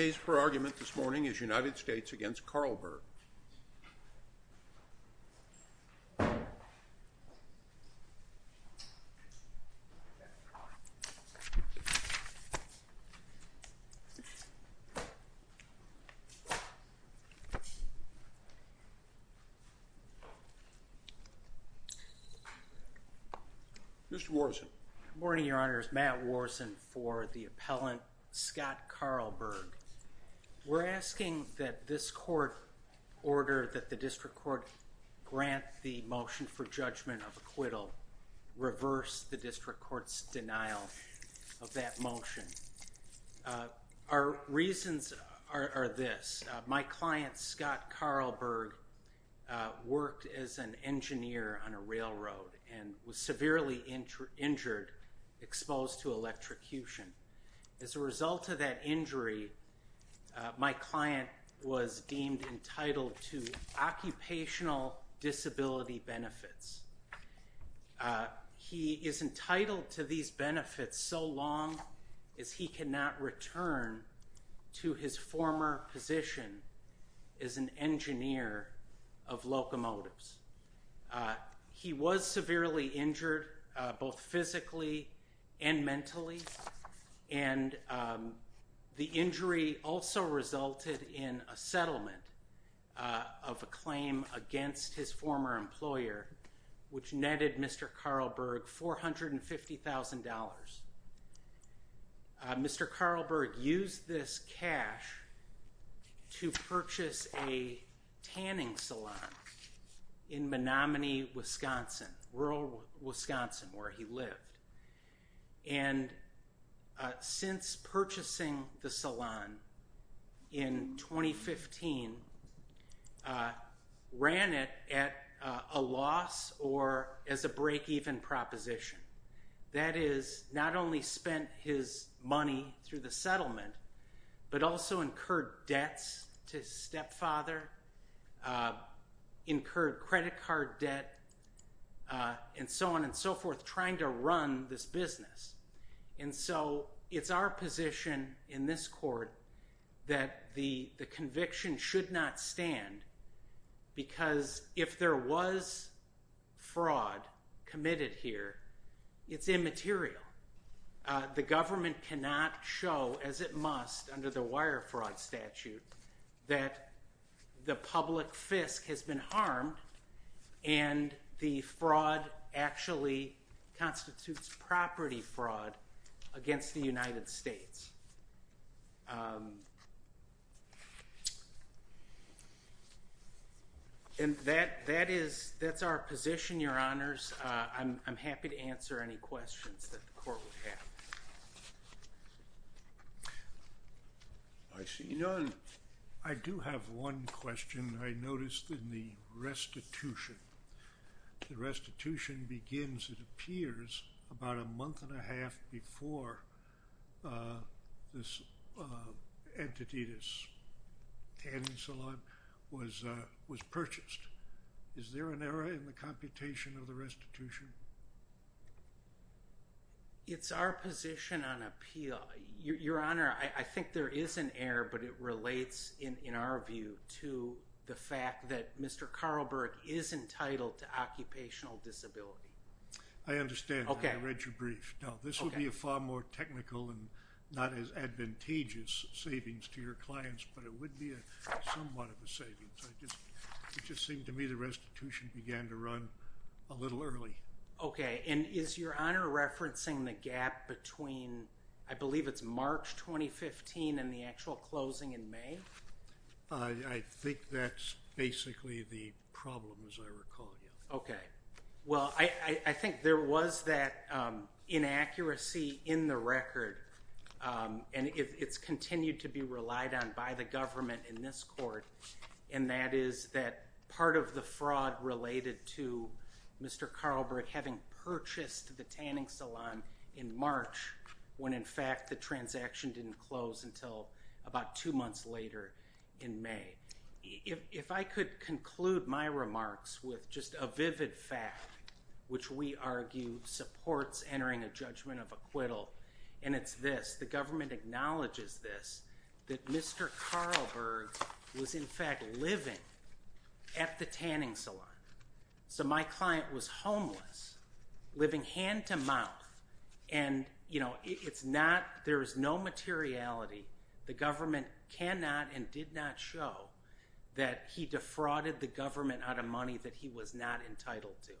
The case for argument this morning is United States v. Carlberg. We're asking that this court order that the district court grant the motion for judgment of acquittal reverse the district court's denial of that motion. Our reasons are this, my client Scott Carlberg worked as an engineer on a railroad and was injured, exposed to electrocution. As a result of that injury, my client was deemed entitled to occupational disability benefits. He is entitled to these benefits so long as he cannot return to his former position as an engineer of locomotives. He was severely injured both physically and mentally and the injury also resulted in a settlement of a claim against his former employer which netted Mr. Carlberg $450,000. Mr. Carlberg used this cash to purchase a tanning salon in Menomonee, Wisconsin, rural Wisconsin where he lived and since purchasing the salon in 2015 ran it at a loss or as a result of that loss, Mr. Carlberg has not only spent his money through the settlement but also incurred debts to his stepfather, incurred credit card debt and so on and so forth trying to run this business. And so it's our position in this court that the conviction should not stand because if there was fraud committed here, it's immaterial. The government cannot show as it must under the wire fraud statute that the public fisc has been harmed and the fraud actually constitutes property fraud against the United States. And that is, that's our position, your honors. I'm happy to answer any questions that the court would have. I see none. I do have one question. I noticed in the restitution, the restitution begins, it appears, about a month and a half before this entity, this tanning salon was purchased. Is there an error in the computation of the restitution? It's our position on appeal. Your honor, I think there is an error but it relates, in our view, to the fact that Mr. Carlberg is entitled to occupational disability. I understand. I read your brief. No, this would be a far more technical and not as advantageous savings to your clients but it would be somewhat of a savings. It just seemed to me the restitution began to run a little early. Okay. And is your honor referencing the gap between, I believe it's March 2015 and the actual closing in May? I think that's basically the problem as I recall, yeah. Okay. Well, I think there was that inaccuracy in the record and it's continued to be relied on by the government in this court and that is that part of the fraud related to Mr. Carlberg having purchased the tanning salon in March when, in fact, the transaction didn't close until about two months later in May. If I could conclude my remarks with just a vivid fact, which we argue supports entering a judgment of acquittal, and it's this. The government acknowledges this, that Mr. Carlberg was, in fact, living at the tanning salon. So, my client was homeless, living hand-to-mouth and, you know, it's not, there is no materiality. The government cannot and did not show that he defrauded the government out of money that he was not entitled to.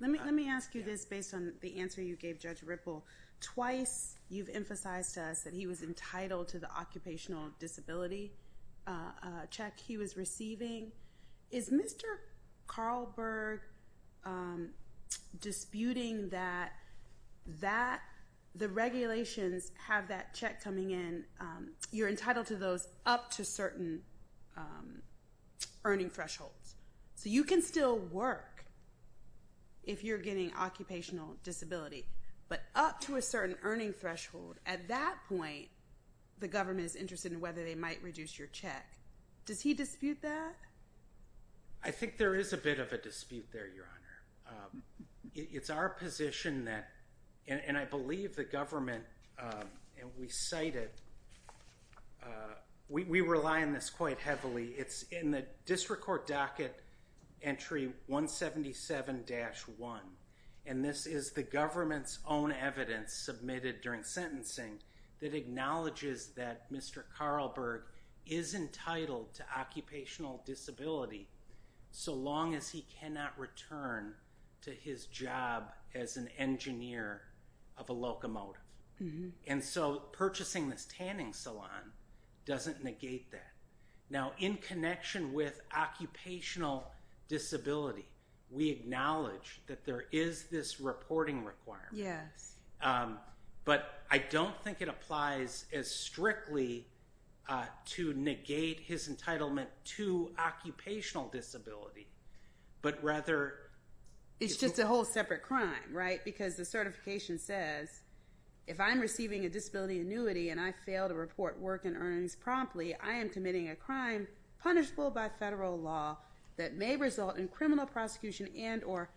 Let me ask you this based on the answer you gave Judge Ripple. Twice, you've emphasized to us that he was entitled to the occupational disability check he was receiving. Is Mr. Carlberg disputing that the regulations have that check coming in, you're entitled to those up to certain earning thresholds? So, you can still work if you're getting occupational disability, but up to a certain earning threshold, at that point, the government is interested in whether they might reduce your check. Does he dispute that? I think there is a bit of a dispute there, Your Honor. It's our position that, and I believe the government, and we cite it, we rely on this quite heavily. It's in the district court docket entry 177-1, and this is the government's own evidence submitted during sentencing that acknowledges that Mr. Carlberg is entitled to occupational disability so long as he cannot return to his job as an engineer of a locomotive. And so, purchasing this tanning salon doesn't negate that. Now, in connection with occupational disability, we acknowledge that there is this reporting requirement. Yes. But, I don't think it applies as strictly to negate his entitlement to occupational disability, but rather... It's just a whole separate crime, right? Because the certification says, if I'm receiving a disability annuity and I fail to report work and earnings promptly, I am committing a crime punishable by federal law that may result in criminal prosecution and or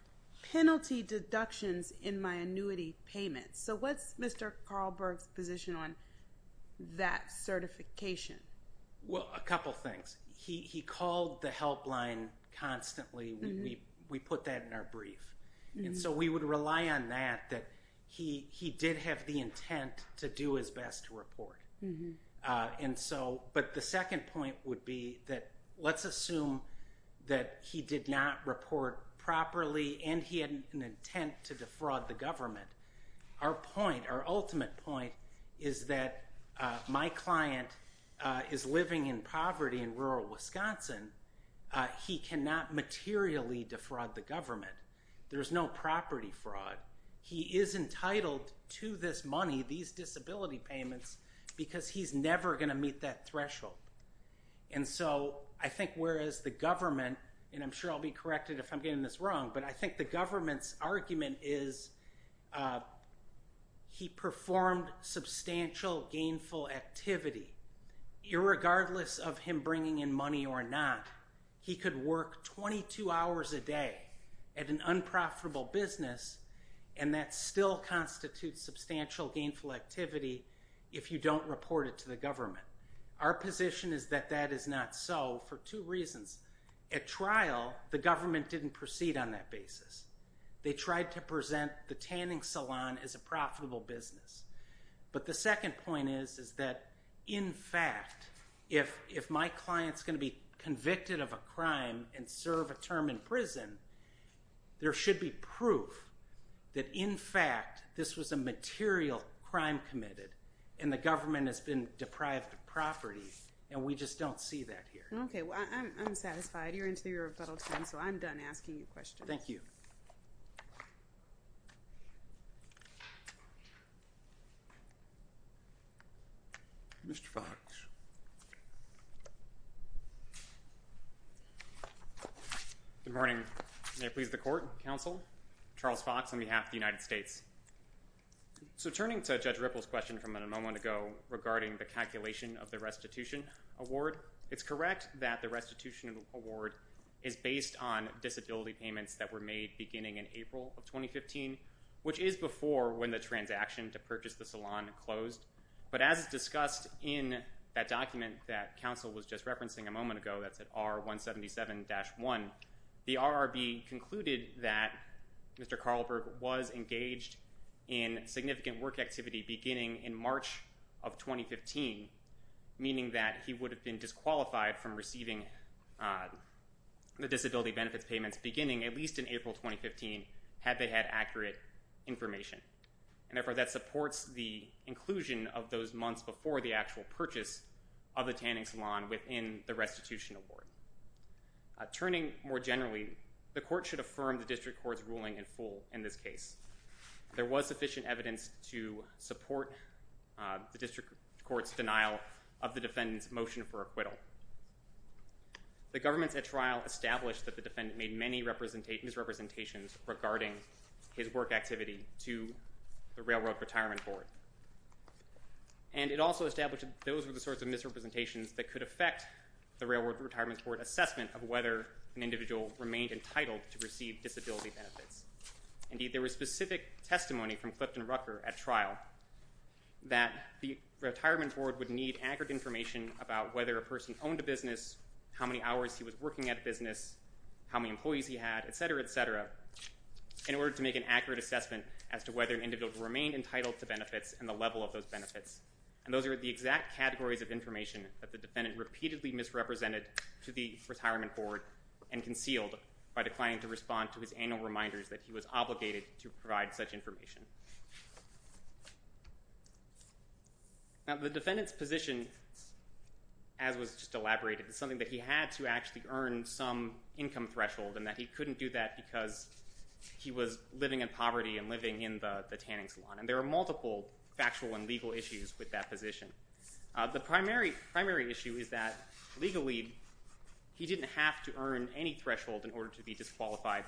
penalty deductions in my annuity payment. So what's Mr. Carlberg's position on that certification? Well, a couple things. He called the helpline constantly. We put that in our brief. And so, we would rely on that, that he did have the intent to do his best to report. And so, but the second point would be that, let's assume that he did not report properly and he had an intent to defraud the government. Our point, our ultimate point, is that my client is living in poverty in rural Wisconsin. He cannot materially defraud the government. There's no property fraud. He is entitled to this money, these disability payments, because he's never going to meet that threshold. And so, I think whereas the government, and I'm sure I'll be corrected if I'm getting this wrong, but I think the government's argument is he performed substantial gainful activity, irregardless of him bringing in money or not. He could work 22 hours a day at an unprofitable business and that still constitutes substantial gainful activity if you don't report it to the government. Our position is that that is not so for two reasons. At trial, the government didn't proceed on that basis. They tried to present the tanning salon as a profitable business. But the second point is that, in fact, if my client's going to be convicted of a crime and serve a term in prison, there should be proof that, in fact, this was a material crime committed and the government has been deprived of property and we just don't see that here. Okay, well, I'm satisfied. You're into your rebuttal time, so I'm done asking you questions. Thank you. Mr. Fox. Good morning. May it please the Court, Counsel, Charles Fox on behalf of the United States. So turning to Judge Ripple's question from a moment ago regarding the calculation of the restitution award, it's correct that the restitution award is based on disability payments that were made beginning in April of 2015, which is before when the transaction to purchase the salon closed. But as discussed in that document that Counsel was just referencing a moment ago, that's at R177-1, the RRB concluded that Mr. Karlberg was engaged in significant work activity beginning in March of 2015, meaning that he would have been disqualified from receiving the disability benefits payments beginning at least in April 2015 had they had accurate information. And therefore, that supports the inclusion of those months before the actual purchase of the tanning salon within the restitution award. Turning more generally, the Court should affirm the District Court's ruling in full in this case. There was sufficient evidence to support the District Court's denial of the defendant's motion for acquittal. However, the governments at trial established that the defendant made many misrepresentations regarding his work activity to the Railroad Retirement Board. And it also established that those were the sorts of misrepresentations that could affect the Railroad Retirement Board assessment of whether an individual remained entitled to receive disability benefits. Indeed, there was specific testimony from Clifton Rucker at trial that the Retirement Board asked whether he owned a business, how many hours he was working at a business, how many employees he had, et cetera, et cetera, in order to make an accurate assessment as to whether an individual remained entitled to benefits and the level of those benefits. And those are the exact categories of information that the defendant repeatedly misrepresented to the Retirement Board and concealed by declining to respond to his annual reminders that he was obligated to provide such information. Now, the defendant's position, as was just elaborated, is something that he had to actually earn some income threshold and that he couldn't do that because he was living in poverty and living in the tanning salon. And there are multiple factual and legal issues with that position. The primary issue is that, legally, he didn't have to earn any threshold in order to be disqualified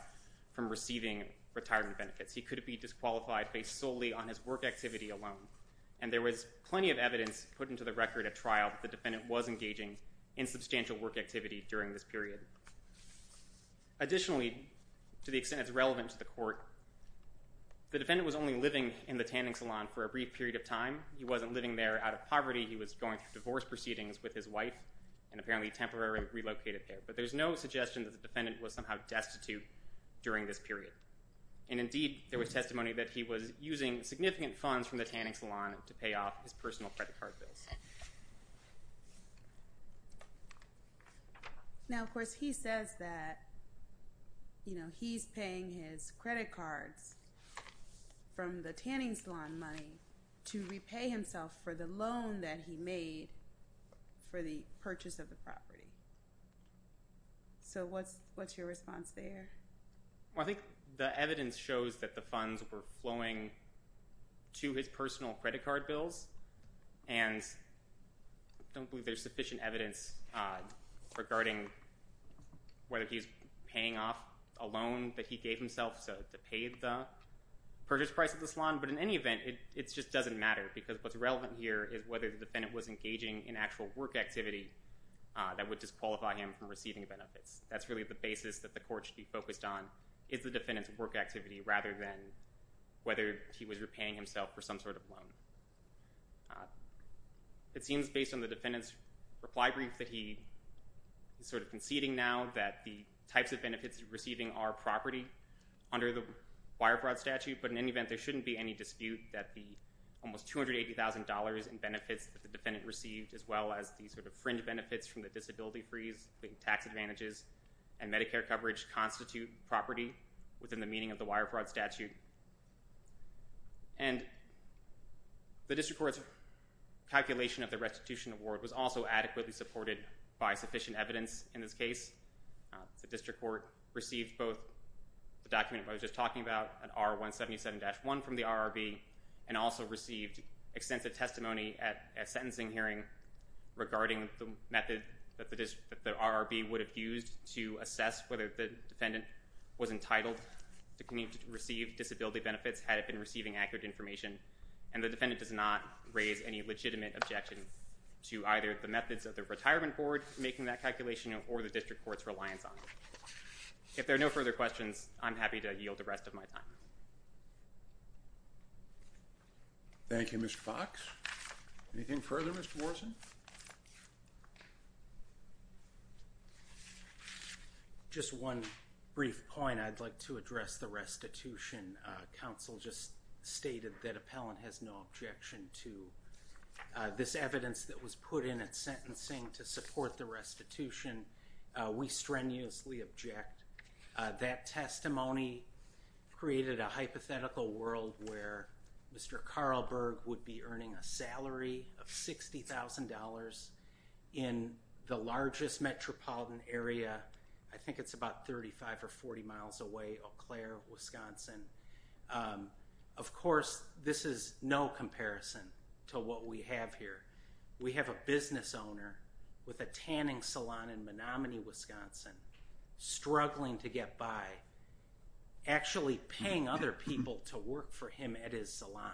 from receiving retirement benefits. He could be disqualified based solely on his work activity alone. And there was plenty of evidence put into the record at trial that the defendant was engaging in substantial work activity during this period. Additionally, to the extent it's relevant to the court, the defendant was only living in the tanning salon for a brief period of time. He wasn't living there out of poverty. He was going through divorce proceedings with his wife and apparently temporarily relocated there. But there's no suggestion that the defendant was somehow destitute during this period. And, indeed, there was testimony that he was using significant funds from the tanning salon to pay off his personal credit card bills. Now, of course, he says that he's paying his credit cards from the tanning salon money to repay himself for the loan that he made for the purchase of the property. So what's your response there? Well, I think the evidence shows that the funds were flowing to his personal credit card bills. And I don't believe there's sufficient evidence regarding whether he's paying off a loan that he gave himself to pay the purchase price of the salon. But in any event, it just doesn't matter because what's relevant here is whether the defendant was engaging in actual work activity that would disqualify him from receiving benefits. That's really the basis that the court should be focused on, is the defendant's work activity rather than whether he was repaying himself for some sort of loan. It seems, based on the defendant's reply brief, that he is sort of conceding now that the types of benefits he's receiving are property under the Wirefraud statute. But in any event, there shouldn't be any dispute that the almost $280,000 in benefits that the defendant received, as well as the sort of fringe benefits from the disability freeze tax advantages and Medicare coverage constitute property within the meaning of the Wirefraud statute. And the District Court's calculation of the restitution award was also adequately supported by sufficient evidence in this case. The District Court received both the document I was just talking about, an R-177-1 from the RRB, and also received extensive testimony at a sentencing hearing regarding the method that the RRB would have used to assess whether the defendant was entitled to receive disability benefits had it been receiving accurate information. And the defendant does not raise any legitimate objection to either the methods of the Retirement Board making that calculation or the District Court's reliance on it. If there are no further questions, I'm happy to yield the rest of my time. Thank you, Mr. Fox. Anything further, Mr. Morrison? Just one brief point, I'd like to address the restitution. Counsel just stated that appellant has no objection to this evidence that was put in at sentencing to support the restitution. We strenuously object. That testimony created a hypothetical world where Mr. Carlberg would be earning a salary of $60,000 in the largest metropolitan area, I think it's about 35 or 40 miles away, Eau Claire, Wisconsin. Of course, this is no comparison to what we have here. We have a business owner with a tanning salon in Menomonee, Wisconsin, struggling to get by, actually paying other people to work for him at his salon.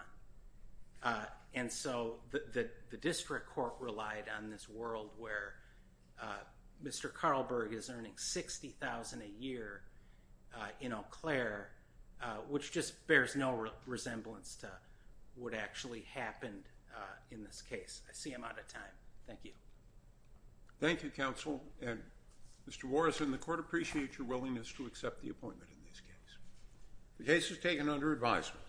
And so the District Court relied on this world where Mr. Carlberg is earning $60,000 a year in Eau Claire, which just bears no resemblance to what actually happened in this case. I see I'm out of time. Thank you. Thank you, counsel. And Mr. Morrison, the court appreciates your willingness to accept the appointment in this case. The case is taken under advisement.